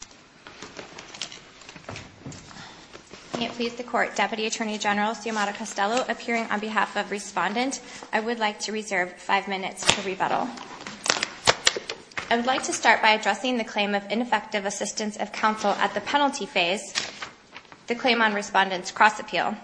I would like to start by addressing the claim of ineffective assistance of counsel at the penalty phase, the claim on respondent's cross-appeal,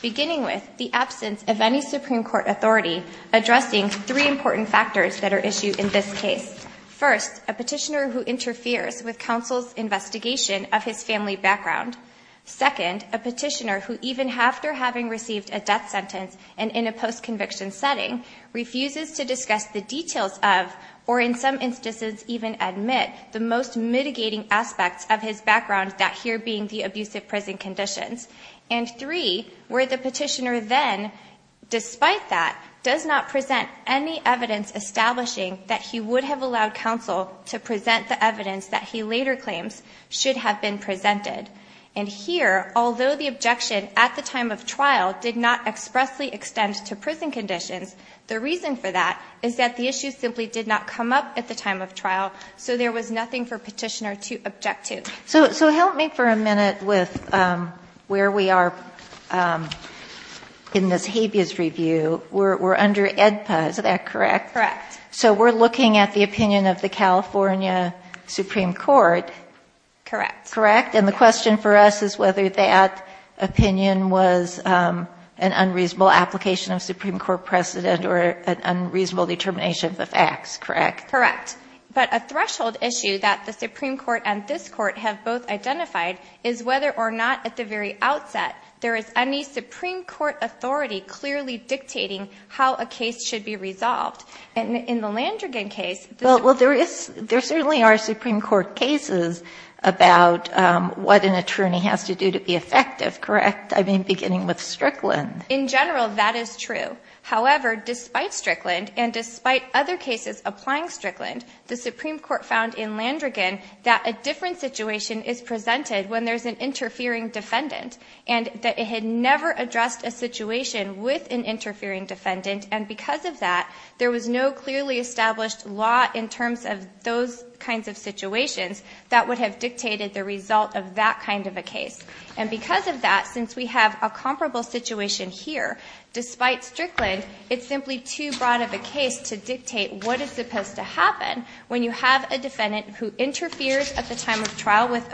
beginning with the absence of any Supreme Court authority addressing three important factors that are issued in this case. First, a petitioner who interferes with counsel's investigation of his family background. Second, a petitioner who even after having received a death sentence and in a post-conviction setting refuses to discuss the details of, or in some instances even admit, the most mitigating aspects of his background, that here being the abusive prison conditions. And three, where the petitioner then, despite that, does not present any evidence establishing that he would have allowed counsel to present the evidence that he later claims should have been presented. And here, although the objection at the time of trial did not expressly extend to prison conditions, the reason for that is that the issue simply did not come up at the time of trial, so there was nothing for petitioner to object to. So help me for a minute with where we are in this habeas review. We're under AEDPA, is that correct? Correct. So we're looking at the opinion of the California Supreme Court. Correct. Correct? And the question for us is whether that opinion was an unreasonable application of Supreme Court precedent or an unreasonable determination of the facts, correct? Correct. But a threshold issue that the Supreme Court and this Court have both identified is whether or not at the very outset there is any Supreme Court authority clearly dictating how a case should be resolved. And in the Landrigan case... Well, there certainly are Supreme Court cases about what an attorney has to do to be effective, correct? I mean, beginning with Strickland. In general, that is true. However, despite Strickland and despite other cases applying Strickland, the Supreme Court found in Landrigan that a different situation is presented when there's an interfering defendant, and that it had never addressed a situation with an interfering defendant, and because of that, there was no clearly established law in terms of those kinds of situations that would have dictated the result of that kind of a case. And because of that, since we have a comparable situation here, despite Strickland, it's simply too broad of a case to dictate what is supposed to happen when you have a defendant who interferes at the time of trial with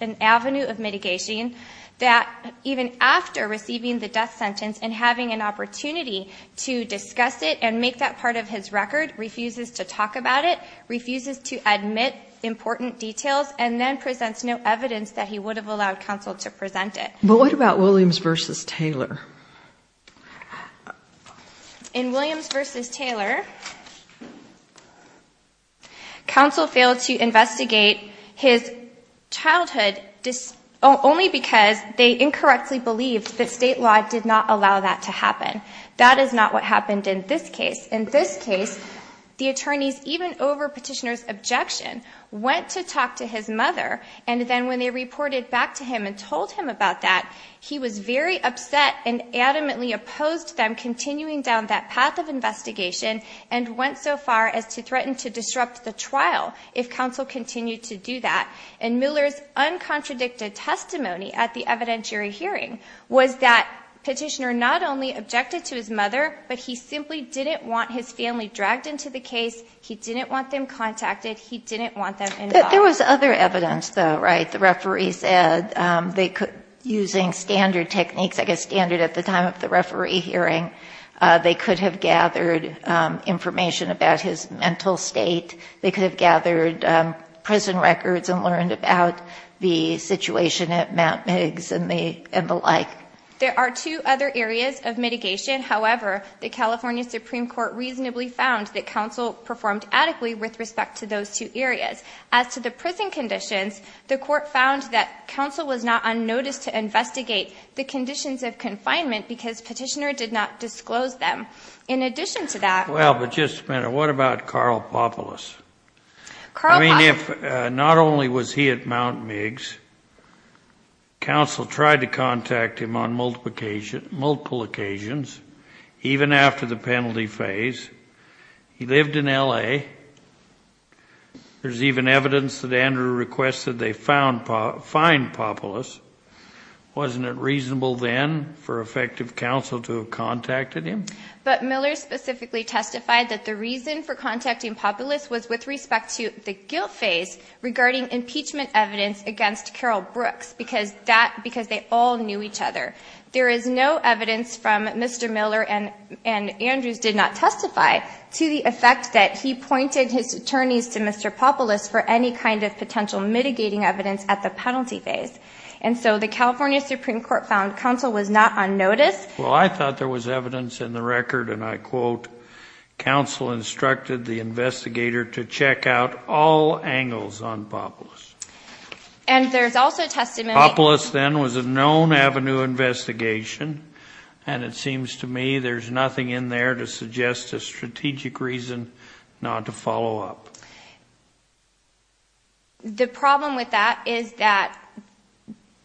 an avenue of mitigation, that even after receiving the death sentence and having an opportunity to discuss it and make that part of his record, refuses to talk about it, refuses to admit important details, and then presents no evidence that he would have allowed counsel to present it. But what about Williams v. Taylor? In Williams v. Taylor, counsel failed to investigate his childhood only because they incorrectly believed that state law did not allow that to happen. And adamantly opposed them continuing down that path of investigation and went so far as to threaten to disrupt the trial if counsel continued to do that. And Miller's uncontradicted testimony at the evidentiary hearing was that petitioner not only objected to his mother, but he simply didn't want his family dragged into the case. He didn't want them contacted. He didn't want them involved. There was other evidence, though, right? The referee said they could, using standard techniques, I guess standard at the time of the referee hearing, they could have gathered information about his mental state. They could have gathered prison records and learned about the situation at Matt Miggs and the like. There are two other areas of mitigation. However, the California Supreme Court reasonably found that counsel performed adequately with respect to those two areas. As to the prison conditions, the court found that counsel was not unnoticed to investigate the conditions of confinement because petitioner did not disclose them. In addition to that... Well, but just a minute. What about Carl Popolis? I mean, if not only was he at Mount Miggs, counsel tried to contact him on multiple occasions, even after the penalty phase. He lived in L.A. There's even evidence that Andrew requested they find Popolis. Wasn't it reasonable then for effective counsel to have contacted him? But Miller specifically testified that the reason for contacting Popolis was with respect to the guilt phase regarding impeachment evidence against Carol Brooks because they all knew each other. There is no evidence from Mr. Miller and Andrews did not testify to the effect that he pointed his attorneys to Mr. Popolis for any kind of potential mitigating evidence at the penalty phase. And so the California Supreme Court found counsel was not unnoticed. Well, I thought there was evidence in the record, and I quote, Counsel instructed the investigator to check out all angles on Popolis. And there's also testimony... Popolis then was a known avenue investigation, and it seems to me there's nothing in there to suggest a strategic reason not to follow up. The problem with that is that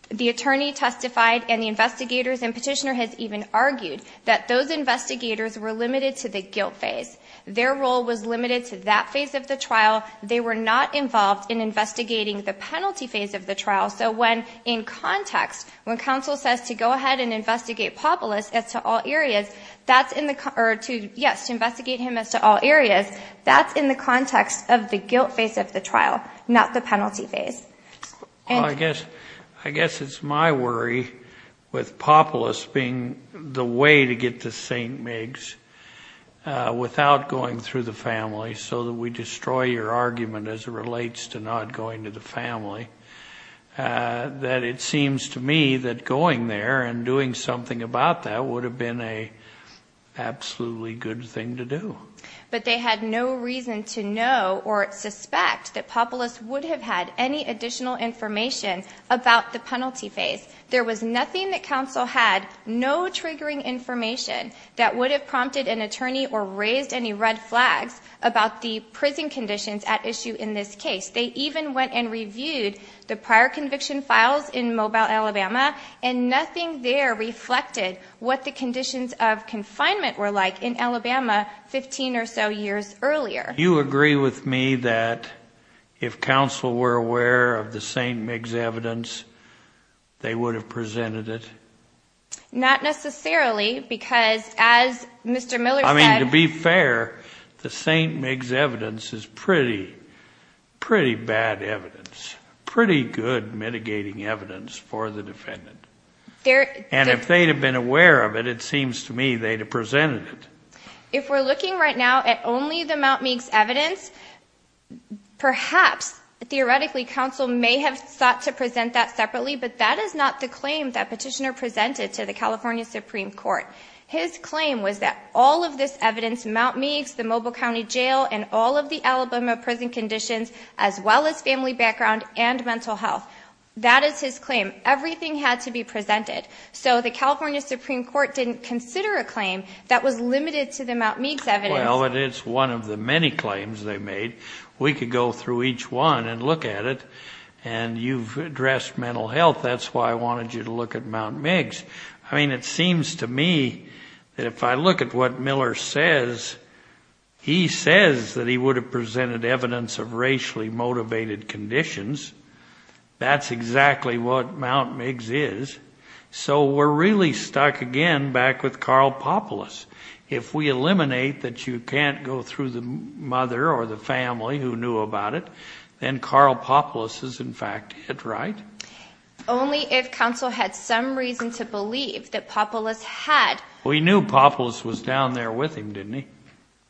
the attorney testified and the investigators and petitioner has even argued that those investigators were limited to the guilt phase. Their role was limited to that phase of the trial. They were not involved in investigating the penalty phase of the trial. So when in context, when counsel says to go ahead and investigate Popolis as to all areas, that's in the car to yes, to investigate him as to all areas. That's in the context of the guilt phase of the trial, not the penalty phase. Well, I guess it's my worry with Popolis being the way to get to St. Migs without going through the family so that we destroy your argument as it relates to not going to the family, that it seems to me that going there and doing something about that would have been an absolutely good thing to do. But they had no reason to know or suspect that Popolis would have had any additional information about the penalty phase. There was nothing that counsel had, no triggering information that would have prompted an attorney or raised any red flags about the prison conditions at issue in this case. They even went and reviewed the prior conviction files in Mobile, Alabama, and nothing there reflected what the conditions of confinement were like in Alabama 15 or so years earlier. You agree with me that if counsel were aware of the St. Migs evidence, they would have presented it? Not necessarily, because as Mr. Miller said... Pretty bad evidence, pretty good mitigating evidence for the defendant. And if they'd have been aware of it, it seems to me they'd have presented it. If we're looking right now at only the Mt. Meigs evidence, perhaps, theoretically, counsel may have sought to present that separately, but that is not the claim that petitioner presented to the California Supreme Court. His claim was that all of this evidence, Mt. Meigs, the Mobile County Jail, and all of the Alabama prison conditions, as well as family background and mental health, that is his claim. Everything had to be presented. So the California Supreme Court didn't consider a claim that was limited to the Mt. Meigs evidence. Well, it's one of the many claims they made. We could go through each one and look at it, and you've addressed mental health. That's why I wanted you to look at Mt. Meigs. I mean, it seems to me that if I look at what Miller says, he says that he would have presented evidence of racially motivated conditions. That's exactly what Mt. Meigs is. So we're really stuck again back with Karl Popolis. If we eliminate that you can't go through the mother or the family who knew about it, then Karl Popolis is in fact it, right? Only if counsel had some reason to believe that Popolis had. We knew Popolis was down there with him, didn't he?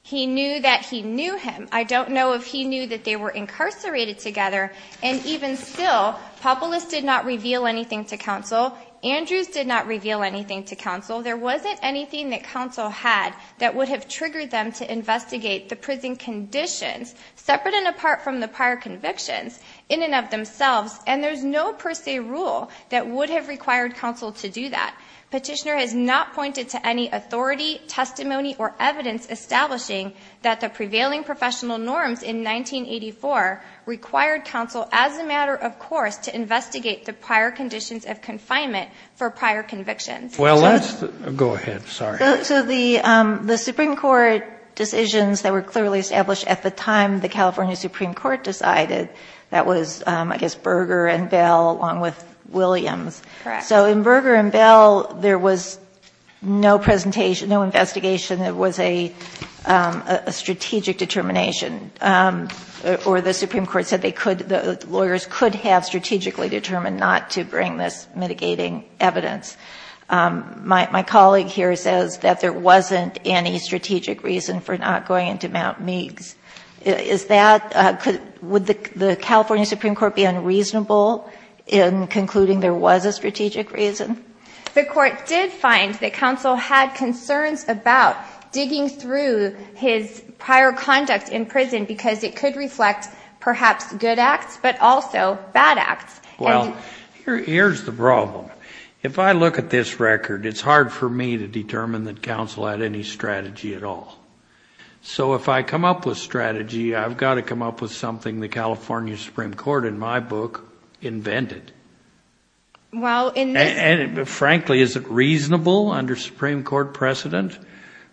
He knew that he knew him. I don't know if he knew that they were incarcerated together. And even still, Popolis did not reveal anything to counsel. Andrews did not reveal anything to counsel. There wasn't anything that counsel had that would have triggered them to investigate the prison conditions separate and apart from the prior convictions in and of themselves. And there's no per se rule that would have required counsel to do that. Petitioner has not pointed to any authority, testimony, or evidence establishing that the prevailing professional norms in 1984 required counsel, as a matter of course, to investigate the prior conditions of confinement for prior convictions. Well, let's go ahead. Sorry. So the Supreme Court decisions that were clearly established at the time the California Supreme Court decided that was, I guess, Berger and Bell along with Williams. So in Berger and Bell, there was no presentation, no investigation. There was a strategic determination, or the Supreme Court said the lawyers could have strategically determined not to bring this mitigating evidence. My colleague here says that there wasn't any strategic reason for not going into Mount Meigs. Would the California Supreme Court be unreasonable in concluding there was a strategic reason? The court did find that counsel had concerns about digging through his prior conduct in prison because it could reflect perhaps good acts but also bad acts. Well, here's the problem. If I look at this record, it's hard for me to determine that counsel had any strategy at all. So if I come up with strategy, I've got to come up with something the California Supreme Court in my book invented. Frankly, is it reasonable under Supreme Court precedent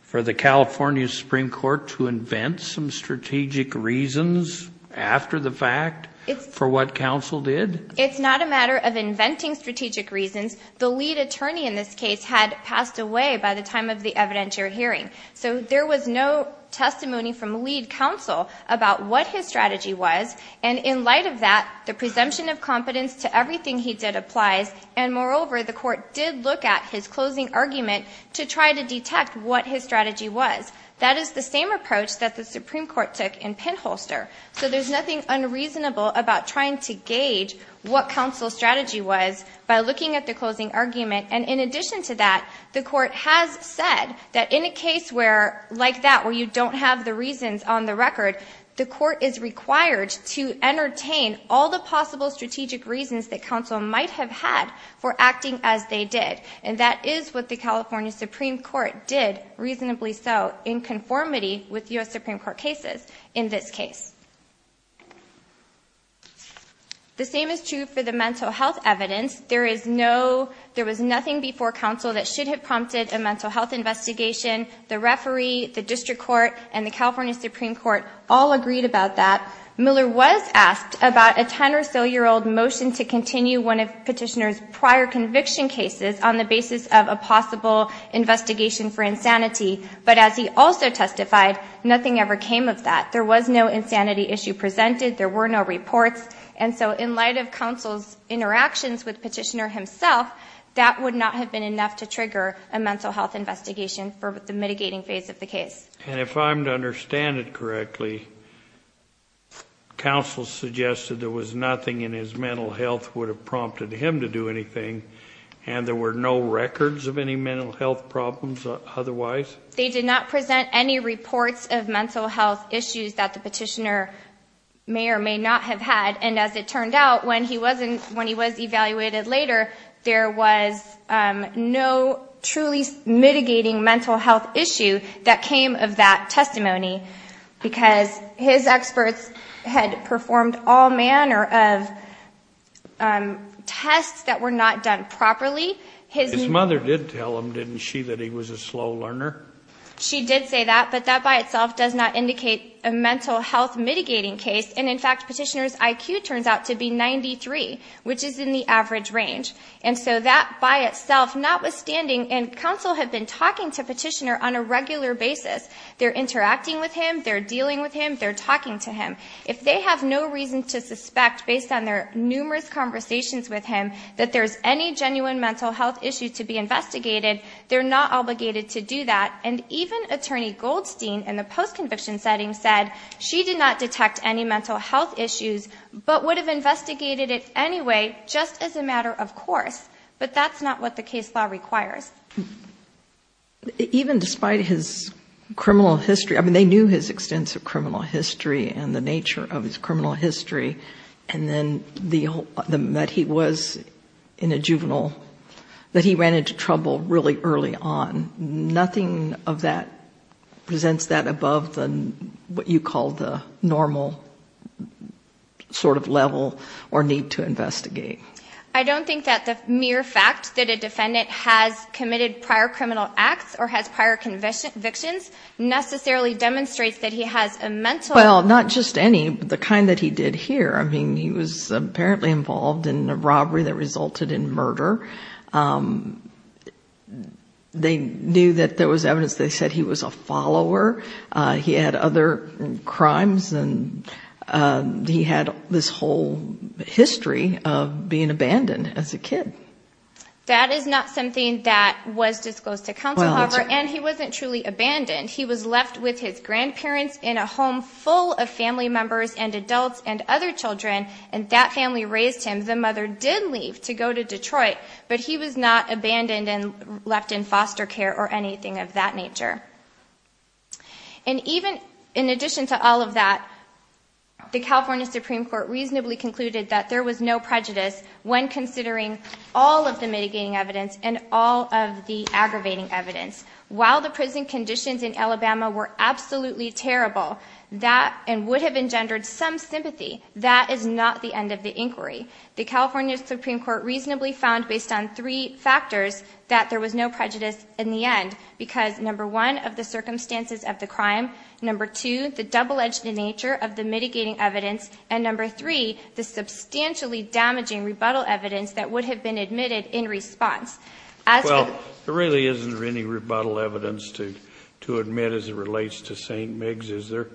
for the California Supreme Court to invent some strategic reasons after the fact for what counsel did? It's not a matter of inventing strategic reasons. The lead attorney in this case had passed away by the time of the evidentiary hearing. So there was no testimony from lead counsel about what his strategy was. And in light of that, the presumption of competence to everything he did applies. And moreover, the court did look at his closing argument to try to detect what his strategy was. That is the same approach that the Supreme Court took in Pinholster. So there's nothing unreasonable about trying to gauge what counsel's strategy was by looking at the closing argument. And in addition to that, the court has said that in a case like that where you don't have the reasons on the record, the court is required to entertain all the possible strategic reasons that counsel might have had for acting as they did. And that is what the California Supreme Court did, reasonably so, in conformity with U.S. Supreme Court cases in this case. The same is true for the mental health evidence. There is no, there was nothing before counsel that should have prompted a mental health investigation. The referee, the district court, and the California Supreme Court all agreed about that. Miller was asked about a 10 or so year old motion to continue one of Petitioner's prior conviction cases on the basis of a possible investigation for insanity. But as he also testified, nothing ever came of that. There was no insanity issue presented. There were no reports. And so in light of counsel's interactions with Petitioner himself, that would not have been enough to trigger a mental health investigation for the mitigating phase of the case. And if I'm to understand it correctly, counsel suggested there was nothing in his mental health would have prompted him to do anything, and there were no records of any mental health problems otherwise? They did not present any reports of mental health issues that the Petitioner may or may not have had. And as it turned out, when he was evaluated later, there was no truly mitigating mental health issue that came of that testimony. Because his experts had performed all manner of tests that were not done properly. His mother did tell him, didn't she, that he was a slow learner? She did say that, but that by itself does not indicate a mental health mitigating case. And in fact, Petitioner's IQ turns out to be 93, which is in the average range. And so that by itself, notwithstanding, and counsel had been talking to Petitioner on a regular basis, they're interacting with him, they're dealing with him, they're talking to him. If they have no reason to suspect, based on their numerous conversations with him, that there's any genuine mental health issue to be investigated, they're not obligated to do that. And even Attorney Goldstein, in the post-conviction setting, said she did not detect any mental health issues, but would have investigated it anyway, just as a matter of course. But that's not what the case law requires. Even despite his criminal history, I mean, they knew his extensive criminal history and the nature of his criminal history, and then that he was in a juvenile, that he ran into trouble really early on. Nothing of that presents that above what you call the normal sort of level or need to investigate. I don't think that the mere fact that a defendant has committed prior criminal acts or has prior convictions necessarily demonstrates that he has a mental health issue. Well, not just any, but the kind that he did here. I mean, he was apparently involved in a robbery that resulted in murder. They knew that there was evidence. They said he was a follower. He had other crimes, and he had this whole history of being abandoned as a kid. That is not something that was disclosed to counsel, however, and he wasn't truly abandoned. He was left with his grandparents in a home full of family members and adults and other children, and that family raised him. The mother did leave to go to Detroit, but he was not abandoned and left in foster care or anything of that nature. And even in addition to all of that, the California Supreme Court reasonably concluded that there was no prejudice when considering all of the mitigating evidence and all of the aggravating evidence. While the prison conditions in Alabama were absolutely terrible and would have engendered some sympathy, that is not the end of the inquiry. The California Supreme Court reasonably found, based on three factors, that there was no prejudice in the end because, number one, of the circumstances of the crime, number two, the double-edged nature of the mitigating evidence, and number three, the substantially damaging rebuttal evidence that would have been admitted in response. Well, there really isn't any rebuttal evidence to admit as it relates to St. Migs, is there?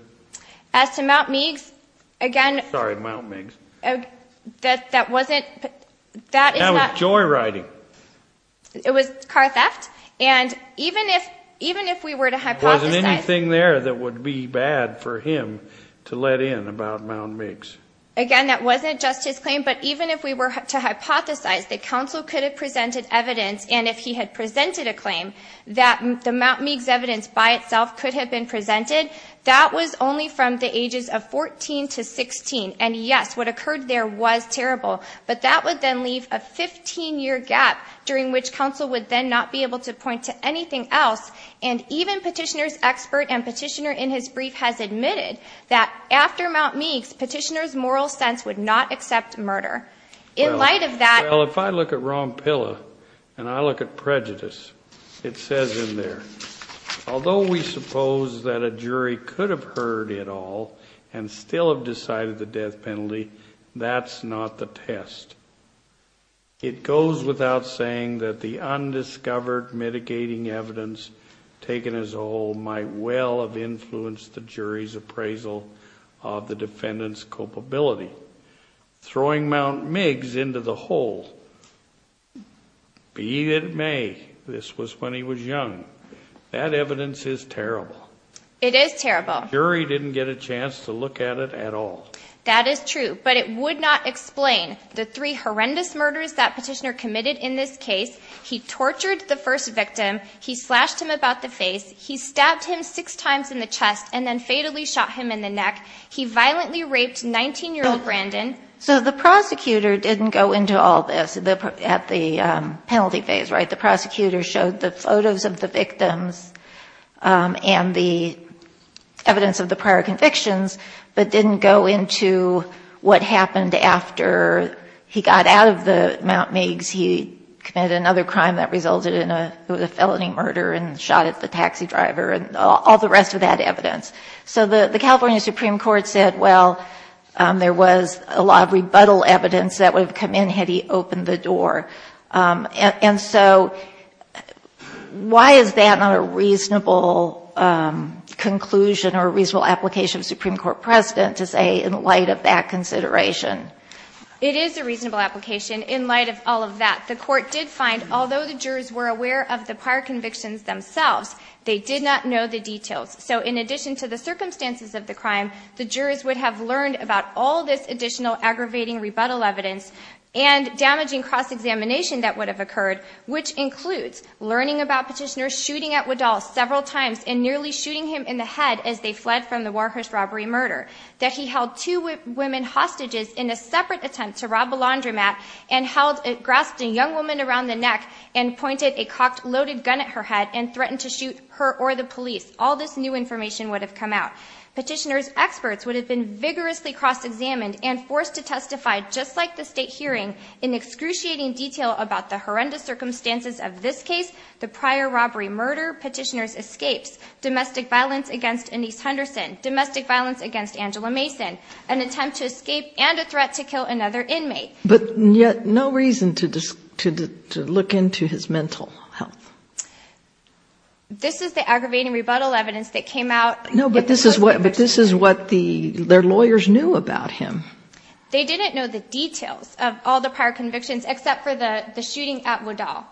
As to Mt. Migs, again... Sorry, Mt. Migs. That wasn't... That was joyriding. It was car theft, and even if we were to hypothesize... Wasn't anything there that would be bad for him to let in about Mt. Migs? Again, that wasn't just his claim, but even if we were to hypothesize that counsel could have presented evidence, and if he had presented a claim, that the Mt. Migs evidence by itself could have been presented, that was only from the ages of 14 to 16, and yes, what occurred there was terrible, but that would then leave a 15-year gap during which counsel would then not be able to point to anything else, and even Petitioner's expert and Petitioner in his brief has admitted that after Mt. Migs, Petitioner's moral sense would not accept murder. In light of that... Well, if I look at Rompilla and I look at prejudice, it says in there, although we suppose that a jury could have heard it all and still have decided the death penalty, that's not the test. It goes without saying that the undiscovered mitigating evidence taken as a whole might well have influenced the jury's appraisal of the defendant's culpability. Throwing Mt. Migs into the hole, be it may, this was when he was young. That evidence is terrible. It is terrible. The jury didn't get a chance to look at it at all. That is true, but it would not explain the three horrendous murders that Petitioner committed in this case. He tortured the first victim. He slashed him about the face. He stabbed him six times in the chest and then fatally shot him in the neck. He violently raped 19-year-old Brandon. So the prosecutor didn't go into all this at the penalty phase, right? The prosecutor showed the photos of the victims and the evidence of the prior convictions but didn't go into what happened after he got out of the Mt. Migs. He committed another crime that resulted in a felony murder and shot at the taxi driver and all the rest of that evidence. So the California Supreme Court said, well, there was a lot of rebuttal evidence that would have come in had he opened the door. And so why is that not a reasonable conclusion or reasonable application of the Supreme Court president to say in light of that consideration? It is a reasonable application in light of all of that. The court did find, although the jurors were aware of the prior convictions themselves, they did not know the details. So in addition to the circumstances of the crime, the jurors would have learned about all this additional aggravating rebuttal evidence and damaging cross-examination that would have occurred, which includes learning about petitioners shooting at Waddall several times and nearly shooting him in the head as they fled from the Warhurst robbery murder, that he held two women hostages in a separate attempt to rob a laundromat and grasped a young woman around the neck and pointed a cocked loaded gun at her head and threatened to shoot her or the police. All this new information would have come out. Petitioners' experts would have been vigorously cross-examined and forced to testify, just like the state hearing, in excruciating detail about the horrendous circumstances of this case, the prior robbery murder, petitioners' escapes, domestic violence against Annise Henderson, domestic violence against Angela Mason, an attempt to escape, and a threat to kill another inmate. But yet no reason to look into his mental health. This is the aggravating rebuttal evidence that came out. No, but this is what their lawyers knew about him. They didn't know the details of all the prior convictions except for the shooting at Waddall.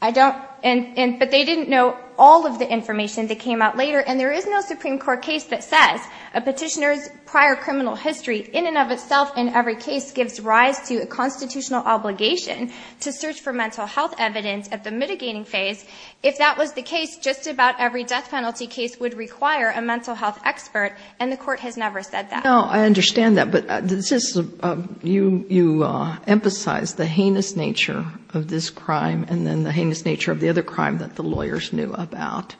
But they didn't know all of the information that came out later, and there is no Supreme Court case that says a petitioner's prior criminal history in and of itself in every case gives rise to a constitutional obligation to search for mental health evidence at the mitigating phase. If that was the case, just about every death penalty case would require a mental health expert, and the Court has never said that. No, I understand that, but you emphasize the heinous nature of this crime and then the heinous nature of the other crime that the lawyers knew about,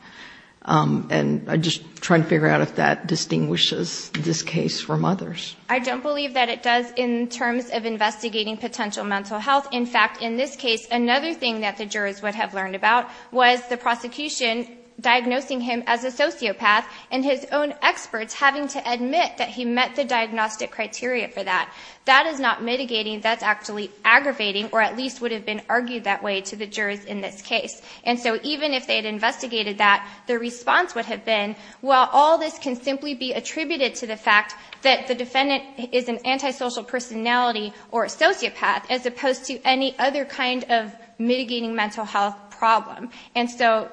and I'm just trying to figure out if that distinguishes this case from others. I don't believe that it does in terms of investigating potential mental health. In fact, in this case, another thing that the jurors would have learned about was the prosecution diagnosing him as a sociopath and his own experts having to admit that he met the diagnostic criteria for that. That is not mitigating. That's actually aggravating, or at least would have been argued that way to the jurors in this case. And so even if they had investigated that, the response would have been, well, all this can simply be attributed to the fact that the defendant is an antisocial personality or a sociopath as opposed to any other kind of mitigating mental health problem. And so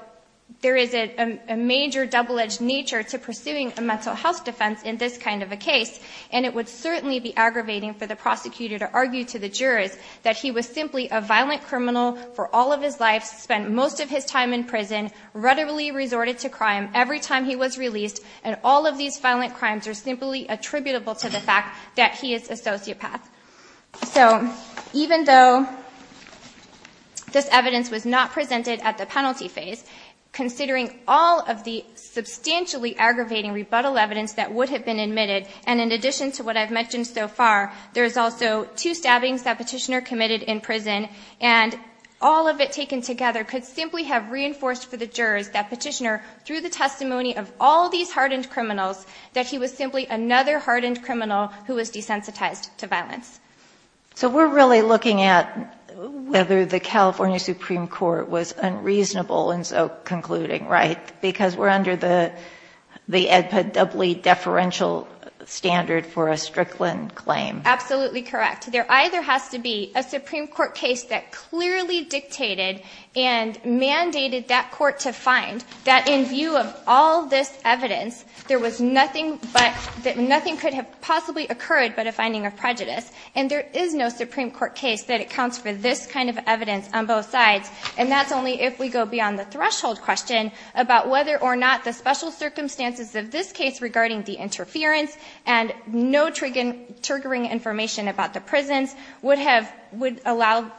there is a major double-edged nature to pursuing a mental health defense in this kind of a case, and it would certainly be aggravating for the prosecutor to argue to the jurors that he was simply a violent criminal for all of his life, spent most of his time in prison, rudderily resorted to crime every time he was released, and all of these violent crimes are simply attributable to the fact that he is a sociopath. So even though this evidence was not presented at the penalty phase, considering all of the substantially aggravating rebuttal evidence that would have been admitted, and in addition to what I've mentioned so far, there's also two stabbings that Petitioner committed in prison, and all of it taken together could simply have reinforced for the jurors that Petitioner, through the testimony of all these hardened criminals, that he was simply another hardened criminal who was desensitized to violence. So we're really looking at whether the California Supreme Court was unreasonable in so concluding, right? Because we're under the EDPA doubly deferential standard for a Strickland claim. Absolutely correct. There either has to be a Supreme Court case that clearly dictated and mandated that court to find that in view of all this evidence, there was nothing but, that nothing could have possibly occurred but a finding of prejudice, and there is no Supreme Court case that accounts for this kind of evidence on both sides, and that's only if we go beyond the threshold question about whether or not the special circumstances of this case regarding the interference and no triggering information about the prisons would have, would allow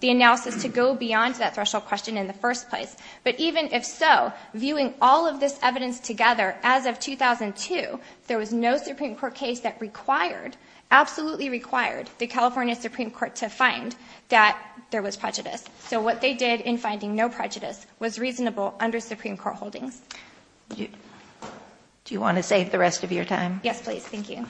the analysis to go beyond that threshold question in the first place. But even if so, viewing all of this evidence together, as of 2002, there was no Supreme Court case that required, absolutely required, the California Supreme Court to find that there was prejudice. So what they did in finding no prejudice was reasonable under Supreme Court holdings. Do you want to save the rest of your time? Yes, please. Thank you.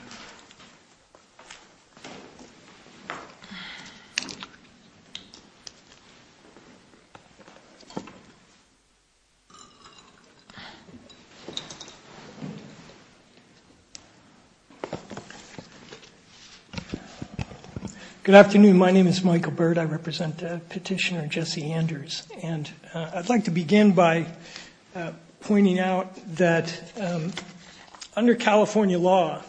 Good afternoon. My name is Michael Bird. I represent Petitioner Jesse Anders, and I'd like to begin by pointing out that under California law,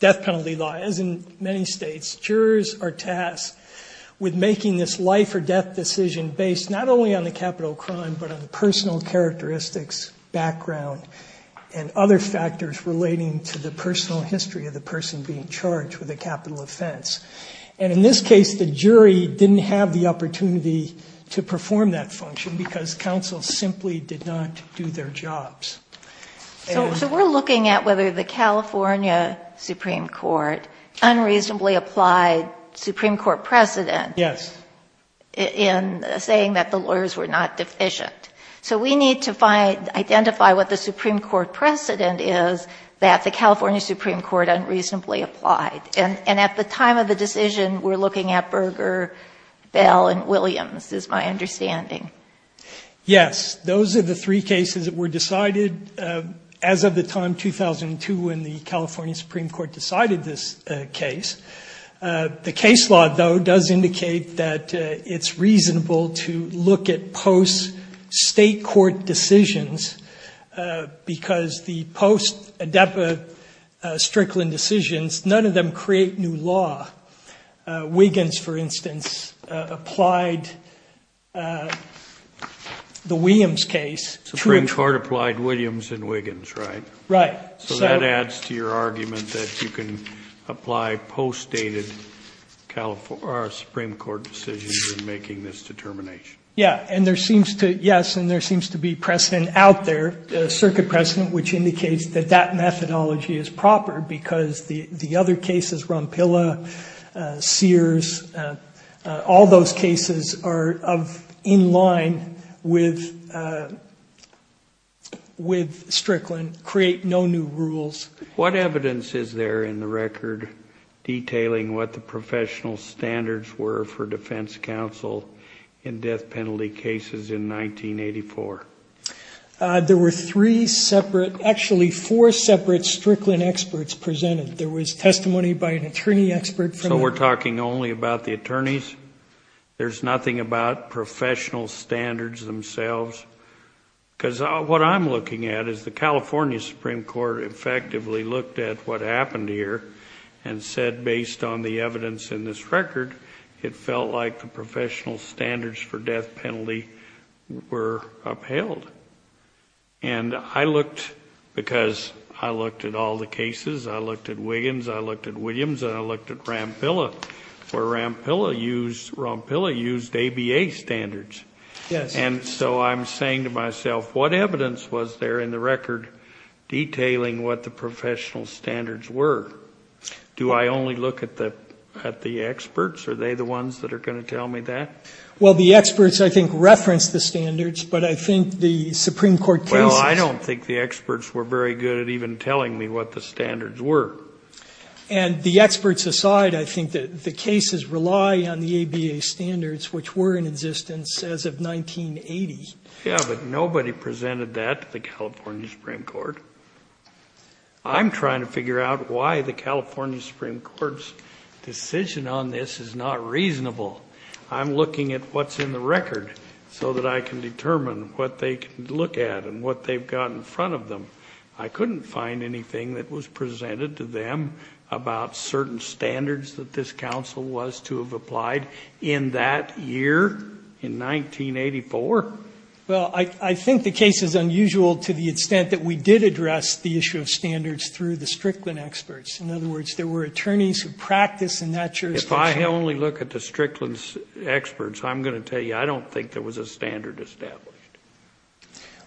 death penalty law, as in many states, jurors are tasked with making this life or death decision based not only on the capital of crime but on the personal characteristics, background, and other factors relating to the personal history of the person being charged with a capital offense. And in this case, the jury didn't have the opportunity to perform that function because counsel simply did not do their jobs. So we're looking at whether the California Supreme Court unreasonably applied Supreme Court precedent Yes. in saying that the lawyers were not deficient. So we need to identify what the Supreme Court precedent is that the California Supreme Court unreasonably applied. And at the time of the decision, we're looking at Berger, Bell, and Williams is my understanding. Yes. Those are the three cases that were decided as of the time 2002 when the California Supreme Court decided this case. The case law, though, does indicate that it's reasonable to look at post-state court decisions because the post-Adepa Strickland decisions, none of them create new law. Wiggins, for instance, applied the Williams case. Supreme Court applied Williams and Wiggins, right? Right. So that adds to your argument that you can apply post-dated Supreme Court decisions in making this determination. Yes. And there seems to be precedent out there, circuit precedent, which indicates that that methodology is proper because the other cases, Rompilla, Sears, all those cases are in line with Strickland, create no new rules. What evidence is there in the record detailing what the professional standards were for defense counsel in death penalty cases in 1984? There were three separate, actually four separate Strickland experts presented. There was testimony by an attorney expert. So we're talking only about the attorneys? There's nothing about professional standards themselves? Because what I'm looking at is the California Supreme Court effectively looked at what happened here and said based on the evidence in this record, it felt like the professional standards for death penalty were upheld. And I looked, because I looked at all the cases, I looked at Wiggins, I looked at Williams, and I looked at Rompilla, where Rompilla used ABA standards. Yes. And so I'm saying to myself, what evidence was there in the record detailing what the professional standards were? Do I only look at the experts? Are they the ones that are going to tell me that? Well, the experts, I think, reference the standards, but I think the Supreme Court cases Well, I don't think the experts were very good at even telling me what the standards were. And the experts aside, I think that the cases rely on the ABA standards, which were in existence as of 1980. Yeah, but nobody presented that to the California Supreme Court. I'm trying to figure out why the California Supreme Court's decision on this is not reasonable. I'm looking at what's in the record so that I can determine what they can look at and what they've got in front of them. I couldn't find anything that was presented to them about certain standards that this council was to have applied in that year, in 1984. Well, I think the case is unusual to the extent that we did address the issue of standards through the Strickland experts. In other words, there were attorneys who practiced in that jurisdiction. If I only look at the Strickland experts, I'm going to tell you I don't think there was a standard established.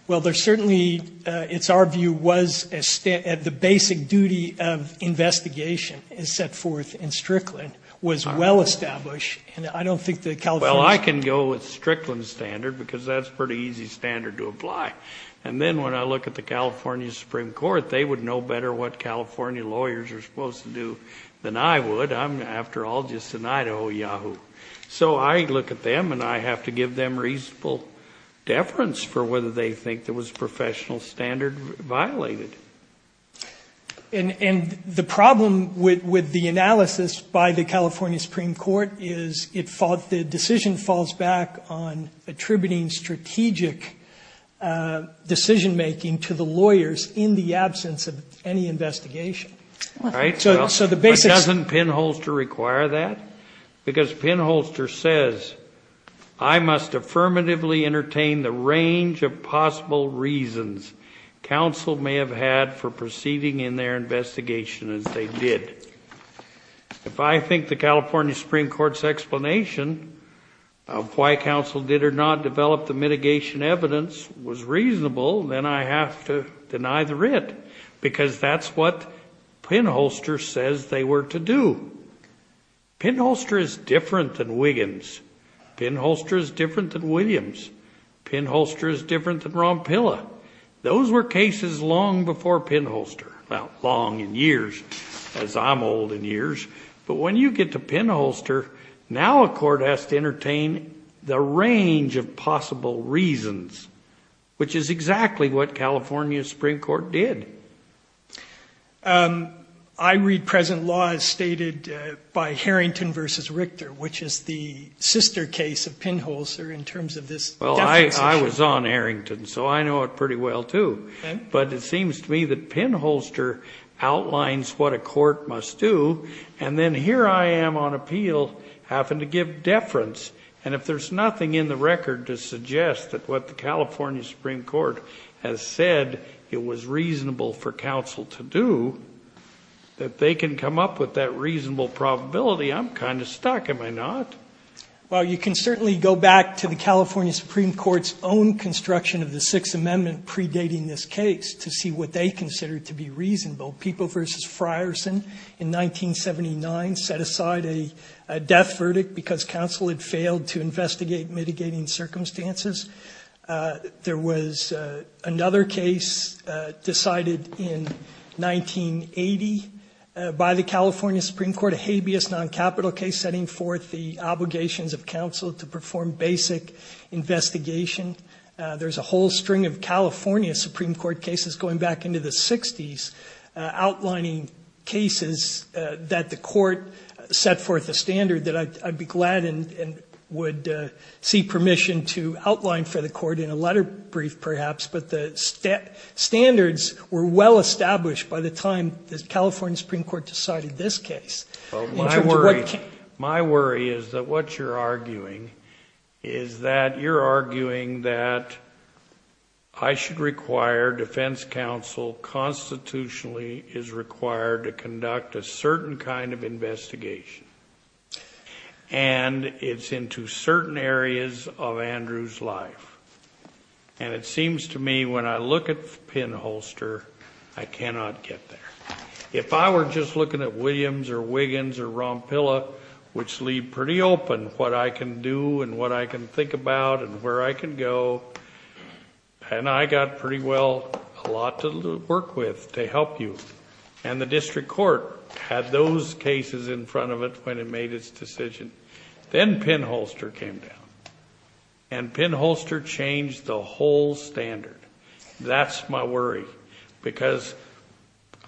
Well, there certainly, it's our view, was the basic duty of investigation is set forth in Strickland was well established. And I don't think the California Well, I can go with Strickland standard because that's a pretty easy standard to apply. And then when I look at the California Supreme Court, they would know better what California lawyers are supposed to do than I would. I'm, after all, just an Idaho yahoo. So I look at them and I have to give them reasonable deference for whether they think there was a professional standard violated. And the problem with the analysis by the California Supreme Court is the decision falls back on attributing strategic decision making to the lawyers in the absence of any investigation. So the basic doesn't pinhole to require that because pinholster says I must affirmatively entertain the range of possible reasons. Counsel may have had for proceeding in their investigation as they did. If I think the California Supreme Court's explanation of why counsel did or not develop the mitigation evidence was reasonable, then I have to deny the writ. Because that's what pinholster says they were to do. Pinholster is different than Wiggins. Pinholster is different than Williams. Pinholster is different than Rompilla. Those were cases long before pinholster. Well, long in years, as I'm old in years. But when you get to pinholster, now a court has to entertain the range of possible reasons, which is exactly what California Supreme Court did. I read present law as stated by Harrington versus Richter, which is the sister case of pinholster in terms of this. Well, I was on Harrington, so I know it pretty well, too. But it seems to me that pinholster outlines what a court must do. And then here I am on appeal having to give deference. And if there's nothing in the record to suggest that what the California Supreme Court has said it was reasonable for counsel to do, that they can come up with that reasonable probability, I'm kind of stuck, am I not? Well, you can certainly go back to the California Supreme Court's own construction of the Sixth Amendment predating this case to see what they consider to be reasonable. People versus Frierson in 1979 set aside a death verdict because counsel had failed to investigate mitigating circumstances. There was another case decided in 1980 by the California Supreme Court, a habeas noncapital case, setting forth the obligations of counsel to perform basic investigation. There's a whole string of California Supreme Court cases going back into the 60s outlining cases that the court set forth a standard that I'd be glad and would seek permission to outline for the court in a letter brief, perhaps. But the standards were well established by the time the California Supreme Court decided this case. My worry is that what you're arguing is that you're arguing that I should require defense counsel constitutionally is required to conduct a certain kind of investigation. And it's into certain areas of Andrew's life. And it seems to me when I look at the pinholster, I cannot get there. If I were just looking at Williams or Wiggins or Rompilla, which leave pretty open what I can do and what I can think about and where I can go, and I got pretty well a lot to work with to help you. And the district court had those cases in front of it when it made its decision. Then pinholster came down. And pinholster changed the whole standard. That's my worry. Because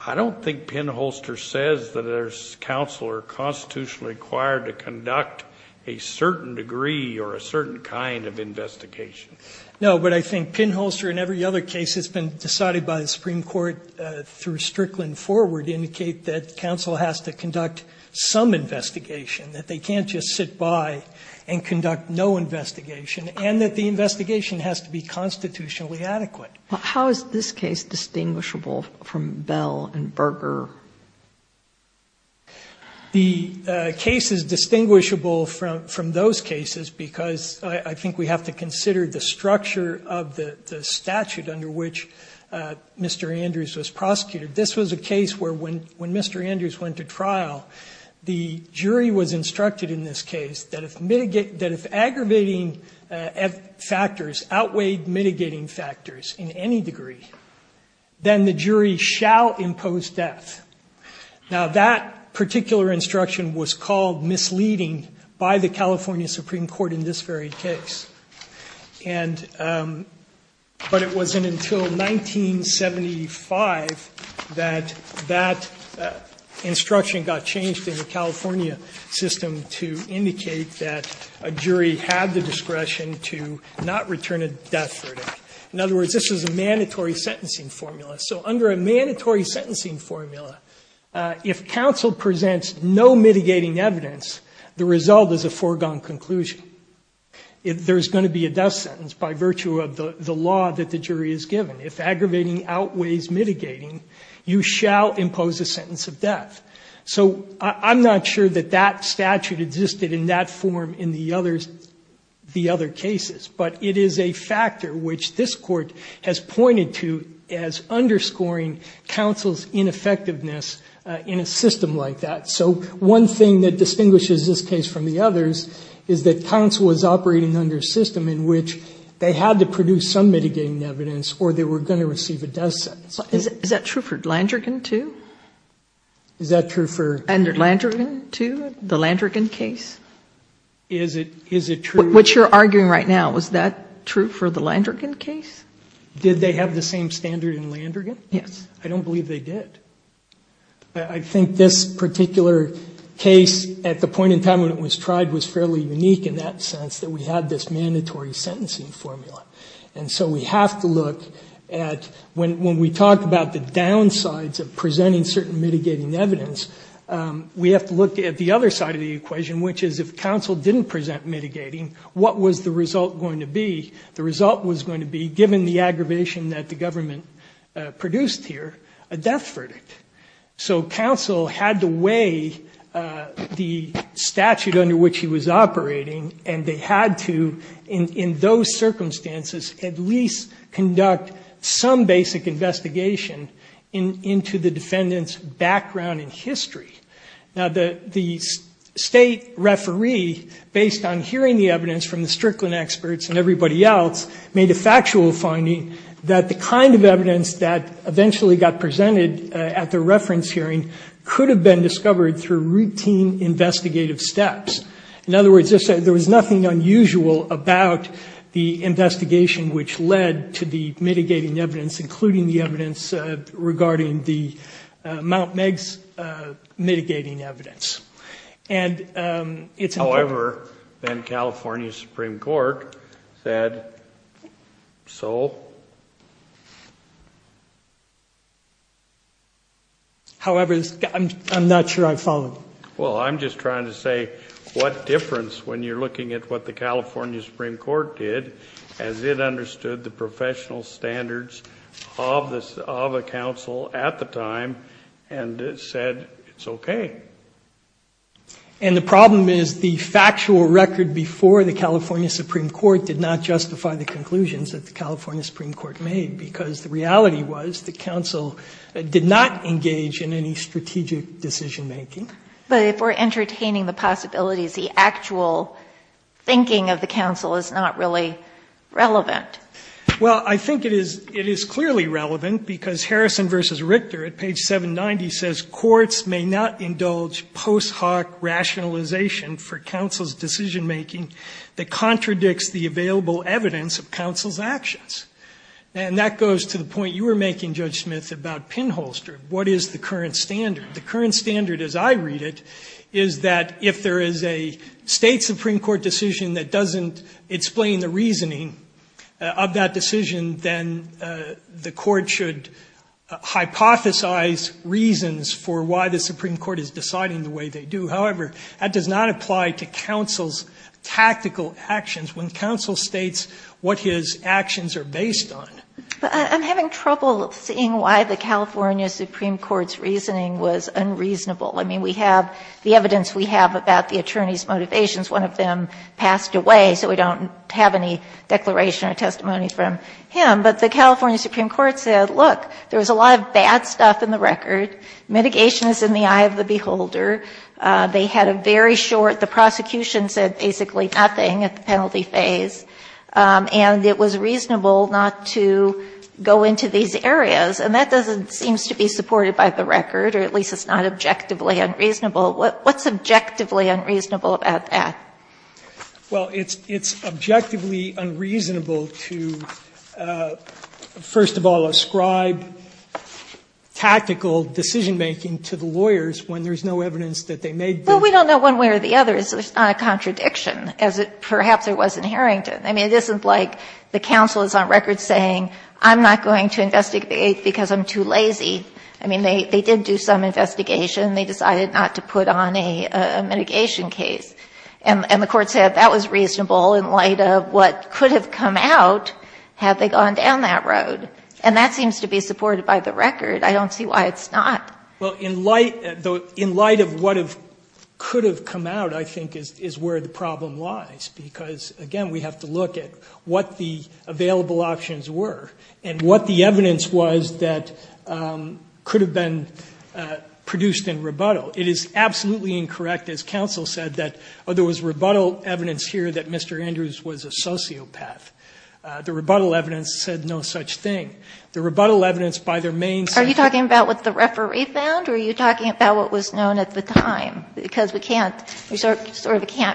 I don't think pinholster says that there's counsel or constitutionally required to conduct a certain degree or a certain kind of investigation. No, but I think pinholster in every other case that's been decided by the Supreme Court through Strickland forward indicate that counsel has to conduct some investigation, that they can't just sit by and conduct no investigation, and that the investigation has to be constitutionally adequate. But how is this case distinguishable from Bell and Berger? The case is distinguishable from those cases because I think we have to consider the structure of the statute under which Mr. Andrews was prosecuted. This was a case where when Mr. Andrews went to trial, the jury was instructed in this case that if aggravating factors outweighed mitigating factors in any degree, then the jury shall impose death. Now, that particular instruction was called misleading by the California Supreme Court in this very case. And but it wasn't until 1975 that that instruction got changed in the California system to indicate that a jury had the discretion to not return a death verdict. In other words, this is a mandatory sentencing formula. So under a mandatory sentencing formula, if counsel presents no mitigating evidence, the result is a foregone conclusion. There's going to be a death sentence by virtue of the law that the jury is given. If aggravating outweighs mitigating, you shall impose a sentence of death. So I'm not sure that that statute existed in that form in the other cases. But it is a factor which this court has pointed to as underscoring counsel's ineffectiveness in a system like that. So one thing that distinguishes this case from the others is that counsel was operating under a system in which they had to produce some mitigating evidence or they were going to receive a death sentence. Is that true for Landrigan too? Is that true for Landrigan too, the Landrigan case? Is it true? What you're arguing right now, was that true for the Landrigan case? Did they have the same standard in Landrigan? Yes. I don't believe they did. I think this particular case, at the point in time when it was tried, was fairly unique in that sense that we had this mandatory sentencing formula. And so we have to look at when we talk about the downsides of presenting certain mitigating evidence, we have to look at the other side of the equation, which is if counsel didn't present mitigating, what was the result going to be? The result was going to be, given the aggravation that the government produced here, a death verdict. So counsel had to weigh the statute under which he was operating, and they had to, in those circumstances, at least conduct some basic investigation into the defendant's background and history. Now, the state referee, based on hearing the evidence from the Strickland experts and everybody else, made a factual finding that the kind of evidence that eventually got presented at the reference hearing could have been discovered through routine investigative steps. In other words, there was nothing unusual about the investigation which led to the mitigating evidence, including the evidence regarding the Mount Meigs mitigating evidence. However, then California Supreme Court said so. However, I'm not sure I followed. Well, I'm just trying to say what difference, when you're looking at what the California Supreme Court did, as it understood the professional standards of the counsel at the time and said it's okay. And the problem is the factual record before the California Supreme Court did not justify the conclusions that the California Supreme Court made, because the reality was the counsel did not engage in any strategic decision-making. But if we're entertaining the possibilities, the actual thinking of the counsel is not really relevant. Well, I think it is clearly relevant, because Harrison v. Richter at page 790 says, courts may not indulge post hoc rationalization for counsel's decision-making that contradicts the available evidence of counsel's actions. And that goes to the point you were making, Judge Smith, about pinholster. What is the current standard? The current standard, as I read it, is that if there is a State Supreme Court decision that doesn't explain the reasoning of that decision, then the court should hypothesize reasons for why the Supreme Court is deciding the way they do. However, that does not apply to counsel's tactical actions when counsel states what his actions are based on. But I'm having trouble seeing why the California Supreme Court's reasoning was unreasonable. I mean, we have the evidence we have about the attorney's motivations. One of them passed away, so we don't have any declaration or testimony from him. But the California Supreme Court said, look, there was a lot of bad stuff in the record. Mitigation is in the eye of the beholder. They had a very short ‑‑ the prosecution said basically nothing at the penalty phase. And it was reasonable not to go into these areas. And that doesn't ‑‑ seems to be supported by the record, or at least it's not objectively unreasonable. What's objectively unreasonable about that? Well, it's objectively unreasonable to, first of all, ascribe tactical decision making to the lawyers when there's no evidence that they made the ‑‑ Well, we don't know one way or the other. There's not a contradiction, as perhaps there was in Harrington. I mean, it isn't like the counsel is on record saying, I'm not going to investigate because I'm too lazy. I mean, they did do some investigation. They decided not to put on a mitigation case. And the court said that was reasonable in light of what could have come out had they gone down that road. And that seems to be supported by the record. I don't see why it's not. Well, in light of what could have come out, I think, is where the problem lies. Because, again, we have to look at what the available options were and what the evidence was that could have been produced in rebuttal. It is absolutely incorrect, as counsel said, that there was rebuttal evidence here that Mr. Andrews was a sociopath. The rebuttal evidence said no such thing. The rebuttal evidence by their main subject. Are you talking about what the referee found? Or are you talking about what was known at the time? Because we can't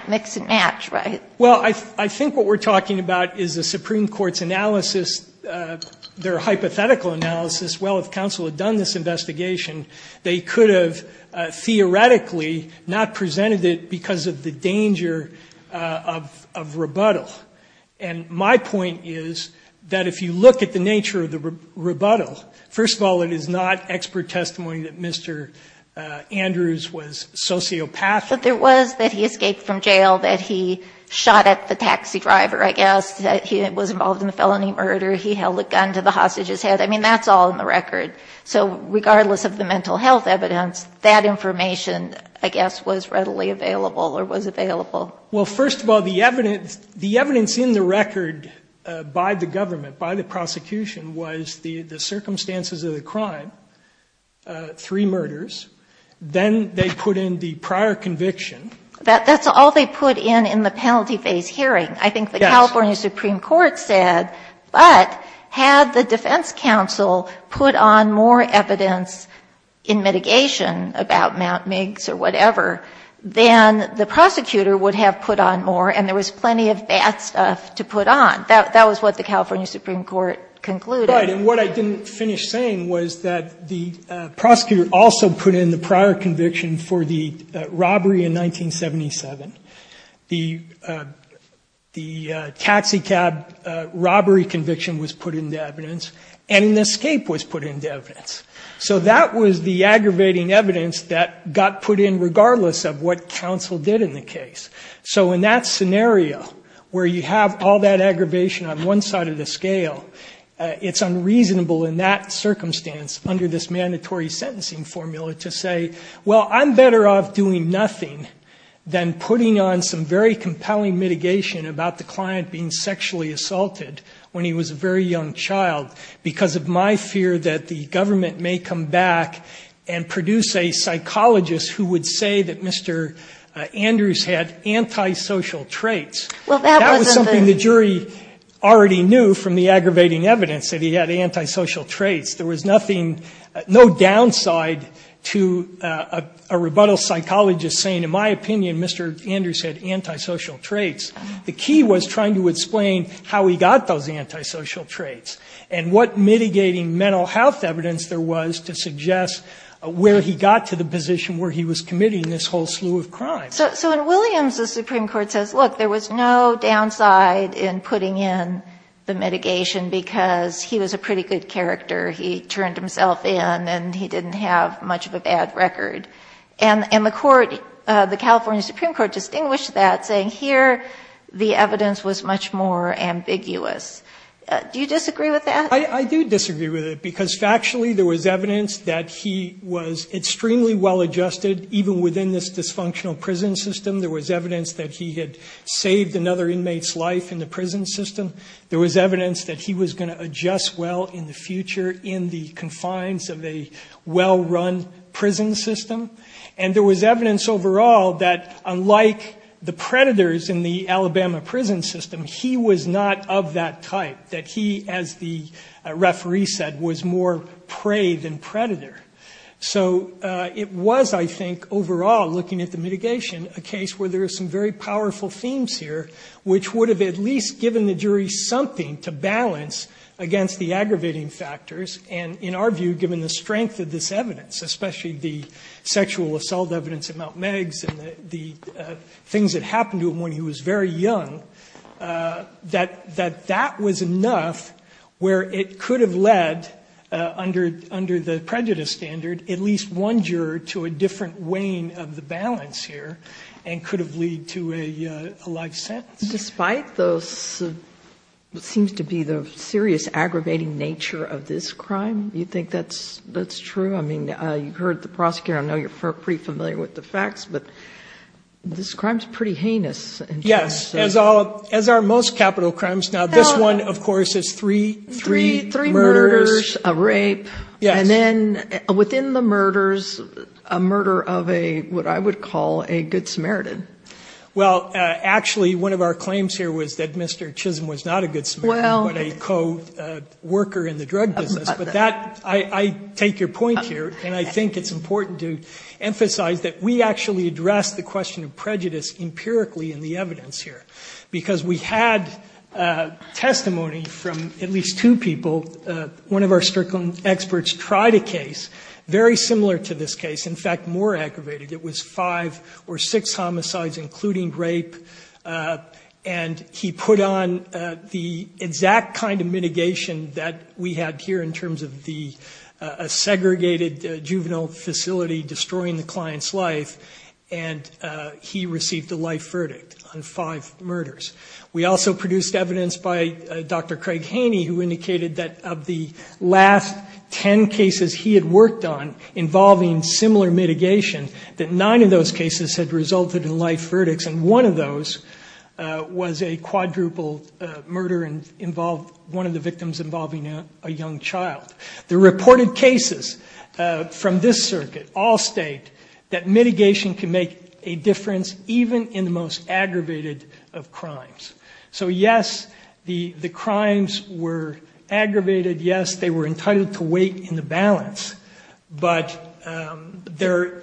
mix and match, right? Well, I think what we're talking about is the Supreme Court's analysis, their hypothetical analysis. Well, if counsel had done this investigation, they could have theoretically not presented it because of the danger of rebuttal. And my point is that if you look at the nature of the rebuttal, first of all, it is not expert testimony that Mr. Andrews was sociopathic. But there was that he escaped from jail, that he shot at the taxi driver, I guess, that he was involved in a felony murder, he held a gun to the hostage's head. I mean, that's all in the record. So regardless of the mental health evidence, that information, I guess, was readily available or was available. Well, first of all, the evidence in the record by the government, by the prosecution, was the circumstances of the crime, three murders. Then they put in the prior conviction. That's all they put in in the penalty phase hearing. Yes. I think the California Supreme Court said, but had the defense counsel put on more and there was plenty of bad stuff to put on, that was what the California Supreme Court concluded. Right. And what I didn't finish saying was that the prosecutor also put in the prior conviction for the robbery in 1977. The taxicab robbery conviction was put into evidence and an escape was put into evidence. So that was the aggravating evidence that got put in regardless of what counsel did in the case. So in that scenario where you have all that aggravation on one side of the scale, it's unreasonable in that circumstance under this mandatory sentencing formula to say, well, I'm better off doing nothing than putting on some very compelling mitigation about the client being sexually assaulted when he was a very young child because of my fear that the government may come back and produce a case where I'm not going to do anything. And so the court concluded that Andrews had antisocial traits. That was something the jury already knew from the aggravating evidence, that he had antisocial traits. There was no downside to a rebuttal psychologist saying, in my opinion, Mr. Andrews had antisocial traits. The key was trying to explain how he got those antisocial traits and what mitigating So in Williams' Supreme Court says, look, there was no downside in putting in the mitigation because he was a pretty good character. He turned himself in and he didn't have much of a bad record. And the court, the California Supreme Court, distinguished that saying here the evidence was much more ambiguous. Do you disagree with that? I do disagree with it because factually there was evidence that he was extremely well-adjusted, even within this dysfunctional prison system. There was evidence that he had saved another inmate's life in the prison system. There was evidence that he was going to adjust well in the future in the confines of a well-run prison system. And there was evidence overall that, unlike the predators in the Alabama prison system, he was not of that type, that he, as the referee said, was more prey than predator. So it was, I think, overall, looking at the mitigation, a case where there are some very powerful themes here, which would have at least given the jury something to balance against the aggravating factors. And in our view, given the strength of this evidence, especially the sexual assault evidence at Mount Meigs and the things that happened to him when he was very young, that that was enough where it could have led, under the prejudice standard, at least one juror to a different weighing of the balance here and could have led to a life sentence. Despite those, what seems to be the serious aggravating nature of this crime, you think that's true? I mean, you've heard the prosecutor. I know you're pretty familiar with the facts. But this crime is pretty heinous. Yes. As are most capital crimes. Now, this one, of course, is three murders. Three murders, a rape. Yes. And then within the murders, a murder of what I would call a good Samaritan. Well, actually, one of our claims here was that Mr. Chisholm was not a good Samaritan but a co-worker in the drug business. But I take your point here, and I think it's important to emphasize that we actually address the question of prejudice empirically in the evidence here because we had testimony from at least two people. One of our Strickland experts tried a case very similar to this case, in fact, more aggravated. It was five or six homicides, including rape. And he put on the exact kind of mitigation that we had here in terms of a segregated juvenile facility destroying the client's life, and he received a life verdict on five murders. We also produced evidence by Dr. Craig Haney, who indicated that of the last ten cases he had worked on involving similar mitigation, that nine of those cases had resulted in life verdicts, and one of those was a quadruple murder and involved one of the victims involving a young child. The reported cases from this circuit all state that mitigation can make a So, yes, the crimes were aggravated. Yes, they were entitled to wait in the balance. But the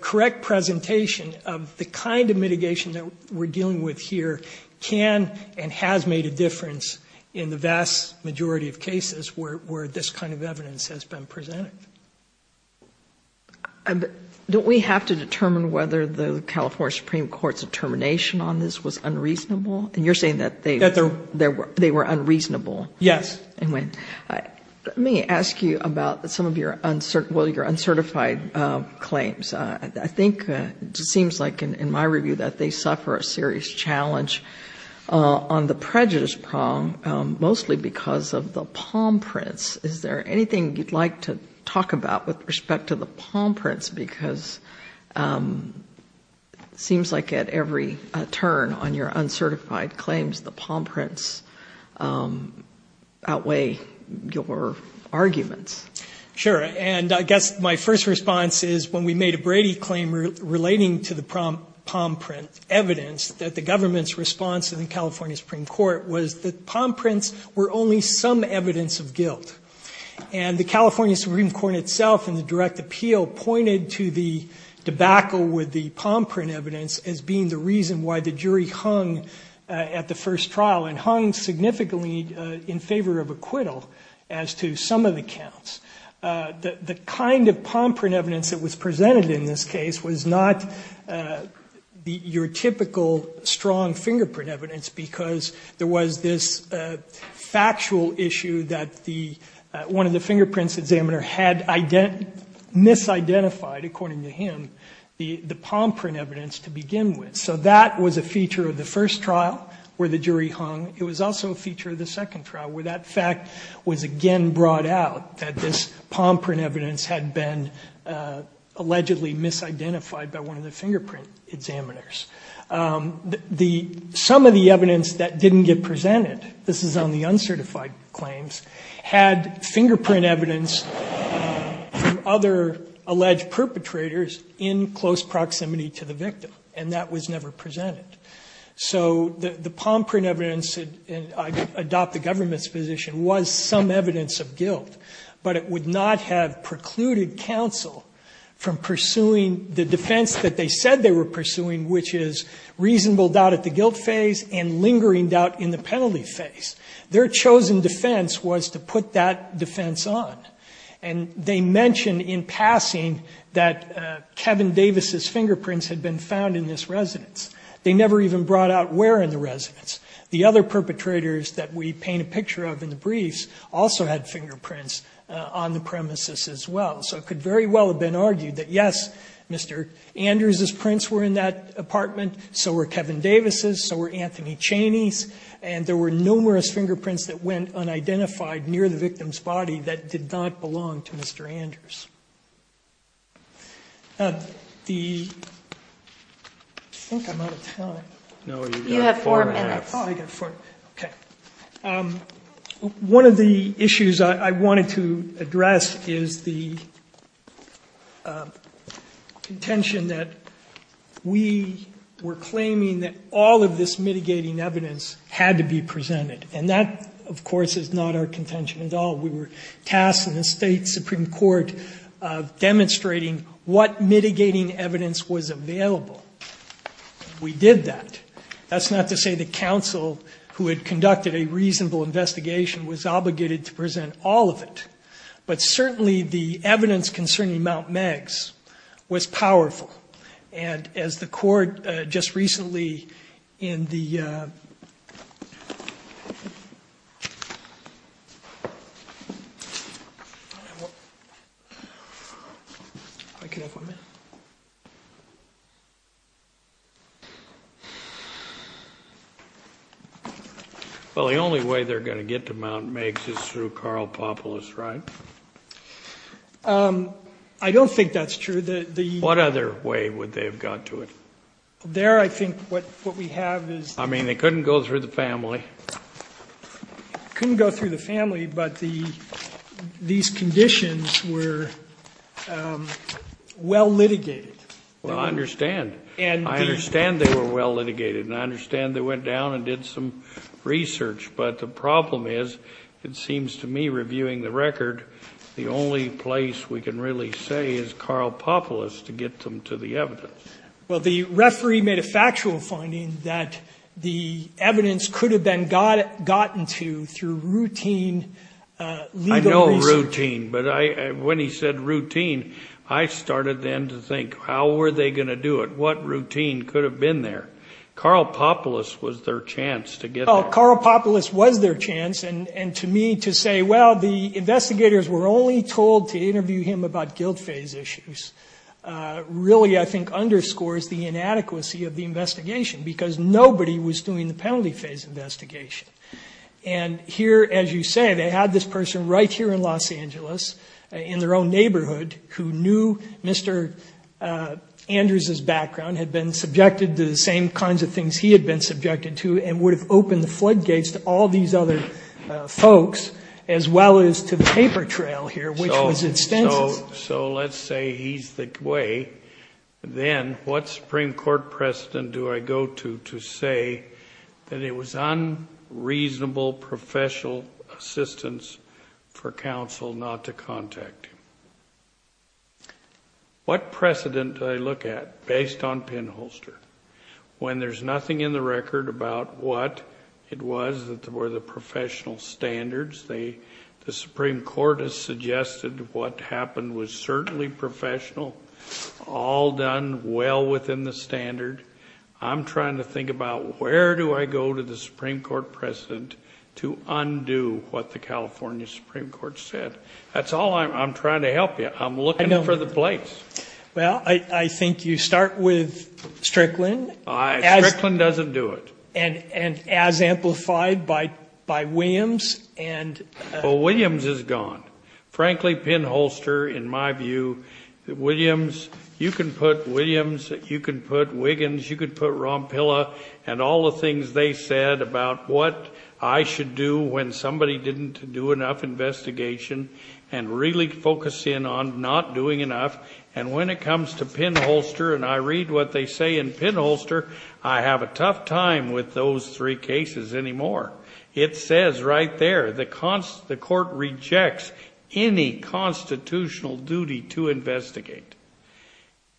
correct presentation of the kind of mitigation that we're dealing with here can and has made a difference in the vast majority of cases where this kind of evidence has been presented. Don't we have to determine whether the California Supreme Court's determination on this was unreasonable? And you're saying that they were unreasonable? Yes. Let me ask you about some of your uncertified claims. I think it seems like in my review that they suffer a serious challenge on the prejudice prong, mostly because of the palm prints. Is there anything you'd like to talk about with respect to the palm prints? Because it seems like at every turn on your uncertified claims, the palm prints outweigh your arguments. Sure. And I guess my first response is, when we made a Brady claim relating to the palm print evidence, that the government's response in the California Supreme Court was that palm prints were only some evidence of guilt. And the California Supreme Court itself in the direct appeal pointed to the debacle with the palm print evidence as being the reason why the jury hung at the first trial and hung significantly in favor of acquittal as to some of the counts. The kind of palm print evidence that was presented in this case was not your typical strong fingerprint evidence because there was this factual issue that one of the fingerprints examiner had misidentified, according to him, the palm print evidence to begin with. So that was a feature of the first trial where the jury hung. It was also a feature of the second trial where that fact was again brought out that this palm print evidence had been allegedly misidentified by one of the fingerprint examiners. Some of the evidence that didn't get presented, this is on the uncertified claims, had fingerprint evidence from other alleged perpetrators in close proximity to the victim. And that was never presented. So the palm print evidence, and I adopt the government's position, was some evidence of guilt, but it would not have precluded counsel from pursuing the defense that they said they were pursuing, which is reasonable doubt at the guilt phase and lingering doubt in the family phase. Their chosen defense was to put that defense on. And they mentioned in passing that Kevin Davis' fingerprints had been found in this residence. They never even brought out where in the residence. The other perpetrators that we paint a picture of in the briefs also had fingerprints on the premises as well. So it could very well have been argued that, yes, Mr. Andrews' prints were in that apartment, so were Kevin Davis', so were Anthony Chaney's, and there were numerous fingerprints that went unidentified near the victim's body that did not belong to Mr. Andrews. I think I'm out of time. No, you've got four minutes. Oh, I've got four. Okay. One of the issues I wanted to address is the contention that we were claiming that all of this mitigating evidence had to be presented. And that, of course, is not our contention at all. We were tasked in the State Supreme Court of demonstrating what mitigating evidence was available. We did that. That's not to say the counsel who had conducted a reasonable investigation was obligated to present all of it. But certainly the evidence concerning Mount Meigs was powerful. And as the court just recently in the ---- Well, the only way they're going to get to Mount Meigs is through Carl Popolis, right? I don't think that's true. What other way would they have got to it? There I think what we have is ---- I mean, they couldn't go through the family. Couldn't go through the family, but these conditions were well litigated. Well, I understand. I understand they were well litigated, and I understand they went down and did some research. But the problem is, it seems to me reviewing the record, the only place we can really say is Carl Popolis to get them to the evidence. Well, the referee made a factual finding that the evidence could have been gotten to through routine legal research. I know routine. But when he said routine, I started then to think, how were they going to do it? What routine could have been there? Carl Popolis was their chance to get there. Well, Carl Popolis was their chance. And to me, to say, well, the investigators were only told to interview him about guilt phase issues really I think underscores the inadequacy of the investigation because nobody was doing the penalty phase investigation. And here, as you say, they had this person right here in Los Angeles in their own neighborhood who knew Mr. Andrews' background, had been subjected to the same kinds of things he had been subjected to, and would have opened the floodgates to all these other folks as well as to the paper trail here, which was extensive. So let's say he's the way. Then what Supreme Court precedent do I go to to say that it was unreasonable professional assistance for counsel not to contact him? What precedent do I look at based on Penholster when there's nothing in the record about what it was that were the professional standards? The Supreme Court has suggested what happened was certainly professional, all done well within the standard. I'm trying to think about where do I go to the Supreme Court precedent to undo what the California Supreme Court said. That's all I'm trying to help you. I'm looking for the place. Well, I think you start with Strickland. Strickland doesn't do it. And as amplified by Williams. Well, Williams is gone. Frankly, Penholster, in my view, you can put Williams, you can put Wiggins, you can put Rompilla and all the things they said about what I should do when somebody didn't do enough investigation and really focus in on not doing enough. And when it comes to Penholster and I read what they say in Penholster, I have a tough time with those three cases anymore. It says right there the court rejects any constitutional duty to investigate.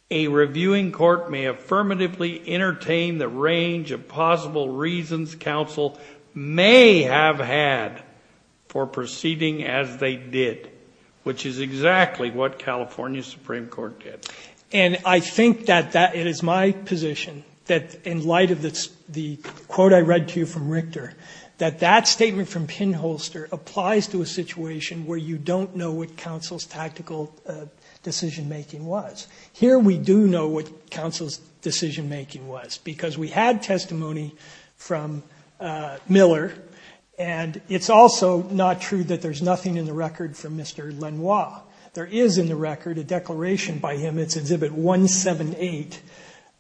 A reviewing court may affirmatively entertain the range of possible reasons counsel may have had for proceeding as they did, which is exactly what California Supreme Court did. And I think that it is my position that in light of the quote I read to you from Richter that that statement from Penholster applies to a situation where you don't know what counsel's tactical decision making was. Here we do know what counsel's decision making was because we had testimony from Miller and it's also not true that there's nothing in the record from Mr. Lenoir. There is in the record a declaration by him. It's exhibit 178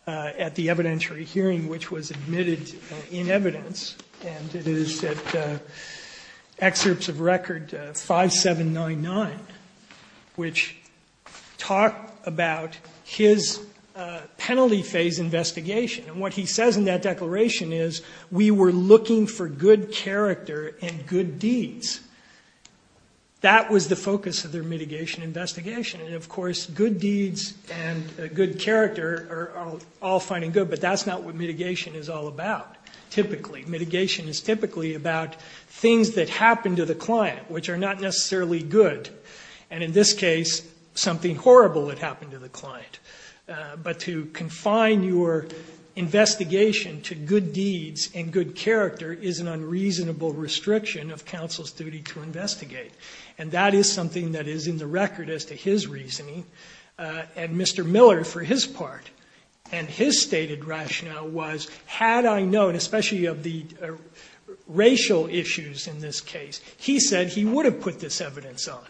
at the evidentiary hearing which was admitted in evidence and it is at excerpts of record 5799 which talk about his penalty phase investigation. And what he says in that declaration is we were looking for good character and good deeds. That was the focus of their mitigation investigation. And, of course, good deeds and good character are all fine and good, but that's not what mitigation is all about typically. Mitigation is typically about things that happen to the client which are not necessarily good. And in this case something horrible had happened to the client. But to confine your investigation to good deeds and good character is an And that is something that is in the record as to his reasoning. And Mr. Miller, for his part, and his stated rationale was had I known, especially of the racial issues in this case, he said he would have put this evidence on.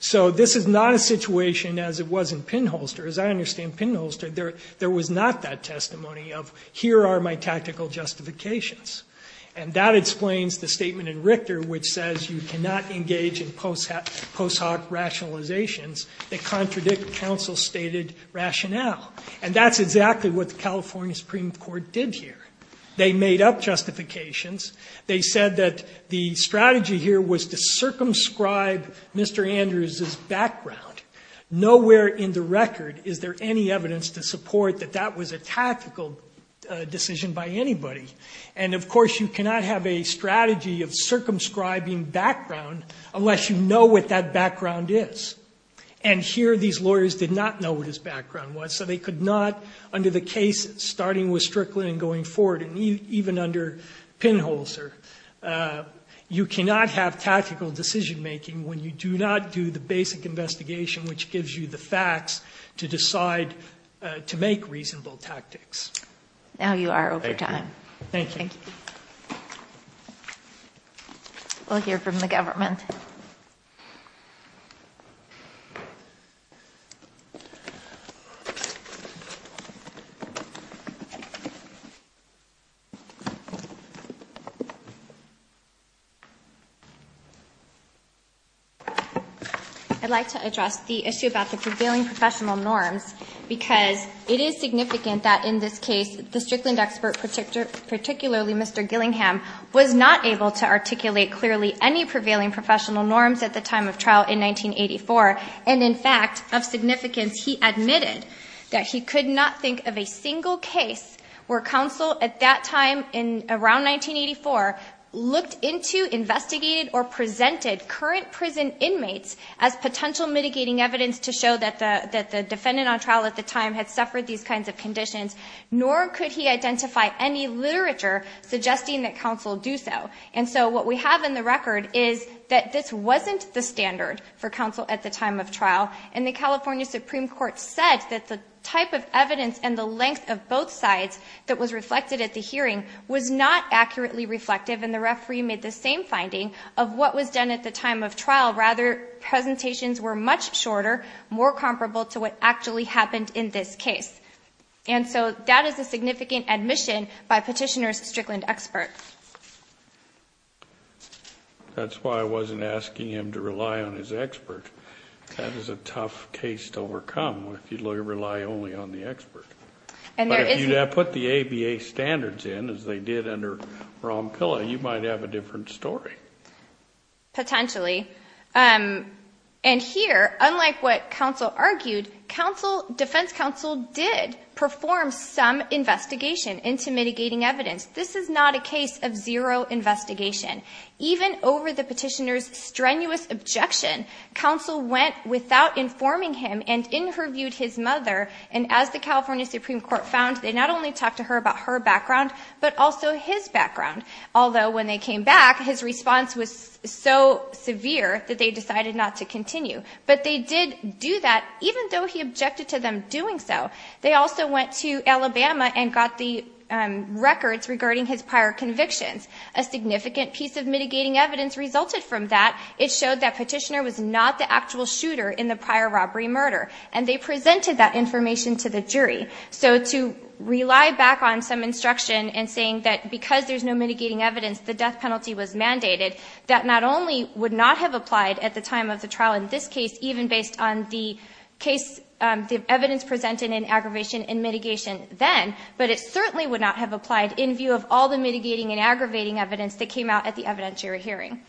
So this is not a situation as it was in Pinholster. As I understand Pinholster there was not that testimony of here are my tactical justifications. And that explains the statement in Richter which says you cannot engage in post hoc rationalizations that contradict counsel's stated rationale. And that's exactly what the California Supreme Court did here. They made up justifications. They said that the strategy here was to circumscribe Mr. Andrews' background. Nowhere in the record is there any evidence to support that that was a tactical decision by anybody. And of course you cannot have a strategy of circumscribing background unless you know what that background is. And here these lawyers did not know what his background was. So they could not, under the case starting with Strickland and going forward, and even under Pinholster, you cannot have tactical decision making when you do not do the basic investigation which gives you the facts to decide to make reasonable tactics. Now you are over time. Thank you. Thank you. We'll hear from the government. I'd like to address the issue about the prevailing professional norms because it is significant that in this case the Strickland expert, particularly Mr. Gillingham, was not able to articulate clearly any prevailing professional norms at the time of trial in 1984. And in fact, of significance, he admitted that he could not think of a single case where counsel at that time around 1984 looked into, investigated or presented current prison inmates as potential mitigating evidence to show that the defendant on trial at the time had suffered these kinds of conditions, nor could he identify any literature suggesting that counsel do so. And so what we have in the record is that this wasn't the standard for counsel at the time of trial, and the California Supreme Court said that the type of evidence and the length of both sides that was reflected at the hearing was not accurately reflective, and the referee made the same finding of what was done at the time of trial. Rather, presentations were much shorter, more comparable to what actually happened in this case. And so that is a significant admission by Petitioner's Strickland expert. That's why I wasn't asking him to rely on his expert. That is a tough case to overcome if you rely only on the expert. But if you put the ABA standards in, as they did under Ron Pilla, you might have a different story. Potentially. And here, unlike what counsel argued, defense counsel did perform some investigation into mitigating evidence. This is not a case of zero investigation. Even over the petitioner's strenuous objection, counsel went without informing him and interviewed his mother, and as the California Supreme Court found, they not only talked to her about her background, but also his background. Although when they came back, his response was so severe that they decided not to continue. But they did do that, even though he objected to them doing so. They also went to Alabama and got the records regarding his prior convictions. A significant piece of mitigating evidence resulted from that. It showed that Petitioner was not the actual shooter in the prior robbery murder. And they presented that information to the jury. So to rely back on some instruction, and saying that because there's no mitigating evidence, the death penalty was mandated, that not only would not have applied at the time of the trial in this case, even based on the evidence presented in aggravation and mitigation then, but it certainly would not have applied in view of all the mitigating and aggravating evidence that came out at the evidentiary hearing.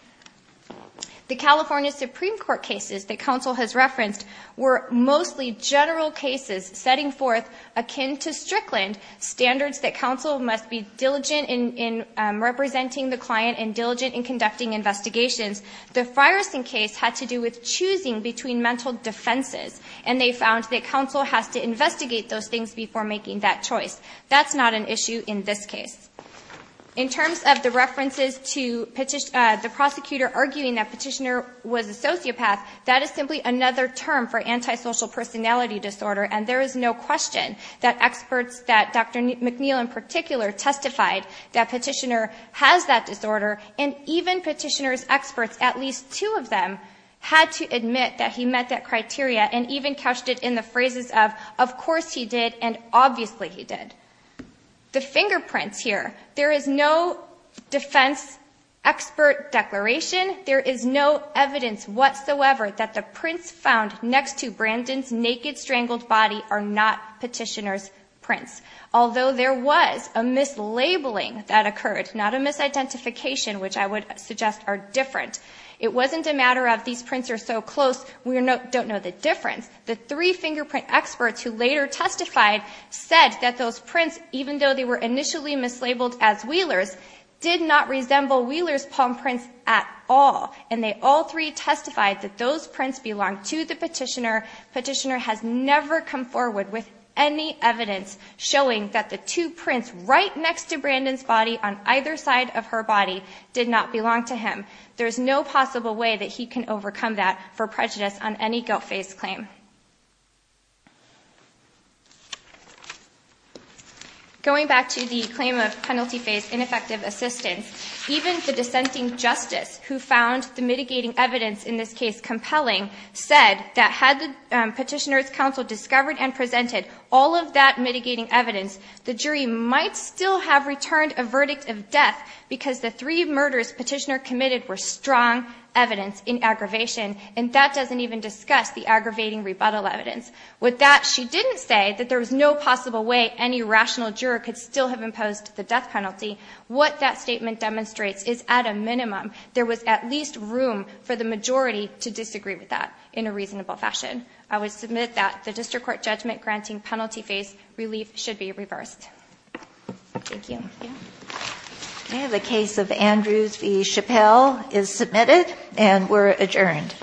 The California Supreme Court cases that counsel has referenced were mostly general cases setting forth, akin to Strickland, standards that counsel must be diligent in representing the client and diligent in conducting investigations. The Fireson case had to do with choosing between mental defenses. And they found that counsel has to investigate those things before making that choice. That's not an issue in this case. In terms of the references to the prosecutor arguing that Petitioner was a sociopath, that is simply another term for antisocial personality disorder. And there is no question that experts, that Dr. McNeil in particular, testified that Petitioner has that disorder. And even Petitioner's experts, at least two of them, had to admit that he met that criteria and even couched it in the phrases of, of course he did and obviously he did. The fingerprints here. There is no defense expert declaration. There is no evidence whatsoever that the prints found next to Brandon's naked strangled body are not Petitioner's prints. Although there was a mislabeling that occurred, not a misidentification, which I would suggest are different. It wasn't a matter of these prints are so close, we don't know the difference. The three fingerprint experts who later testified said that those prints, even though they were initially mislabeled as Wheeler's, did not resemble Wheeler's palm prints at all. And they all three testified that those prints belonged to the Petitioner. Petitioner has never come forward with any evidence showing that the two prints right next to Brandon's body, on either side of her body, did not belong to him. There is no possible way that he can overcome that for prejudice on any guilt phase claim. Going back to the claim of penalty phase ineffective assistance, even the dissenting justice, who found the mitigating evidence in this case compelling, said that had the Petitioner's counsel discovered and presented all of that mitigating evidence, the jury might still have returned a verdict of death because the three murders Petitioner committed were strong evidence in aggravation. And that doesn't even discuss the aggravating rebuttal evidence. With that, she didn't say that there was no possible way any rational juror could still have imposed the death penalty. What that statement demonstrates is, at a minimum, there was at least room for the majority to disagree with that in a reasonable fashion. I would submit that the District Court judgment granting penalty phase relief should be reversed. Thank you. Okay, the case of Andrews v. Chappelle is submitted and we're adjourned.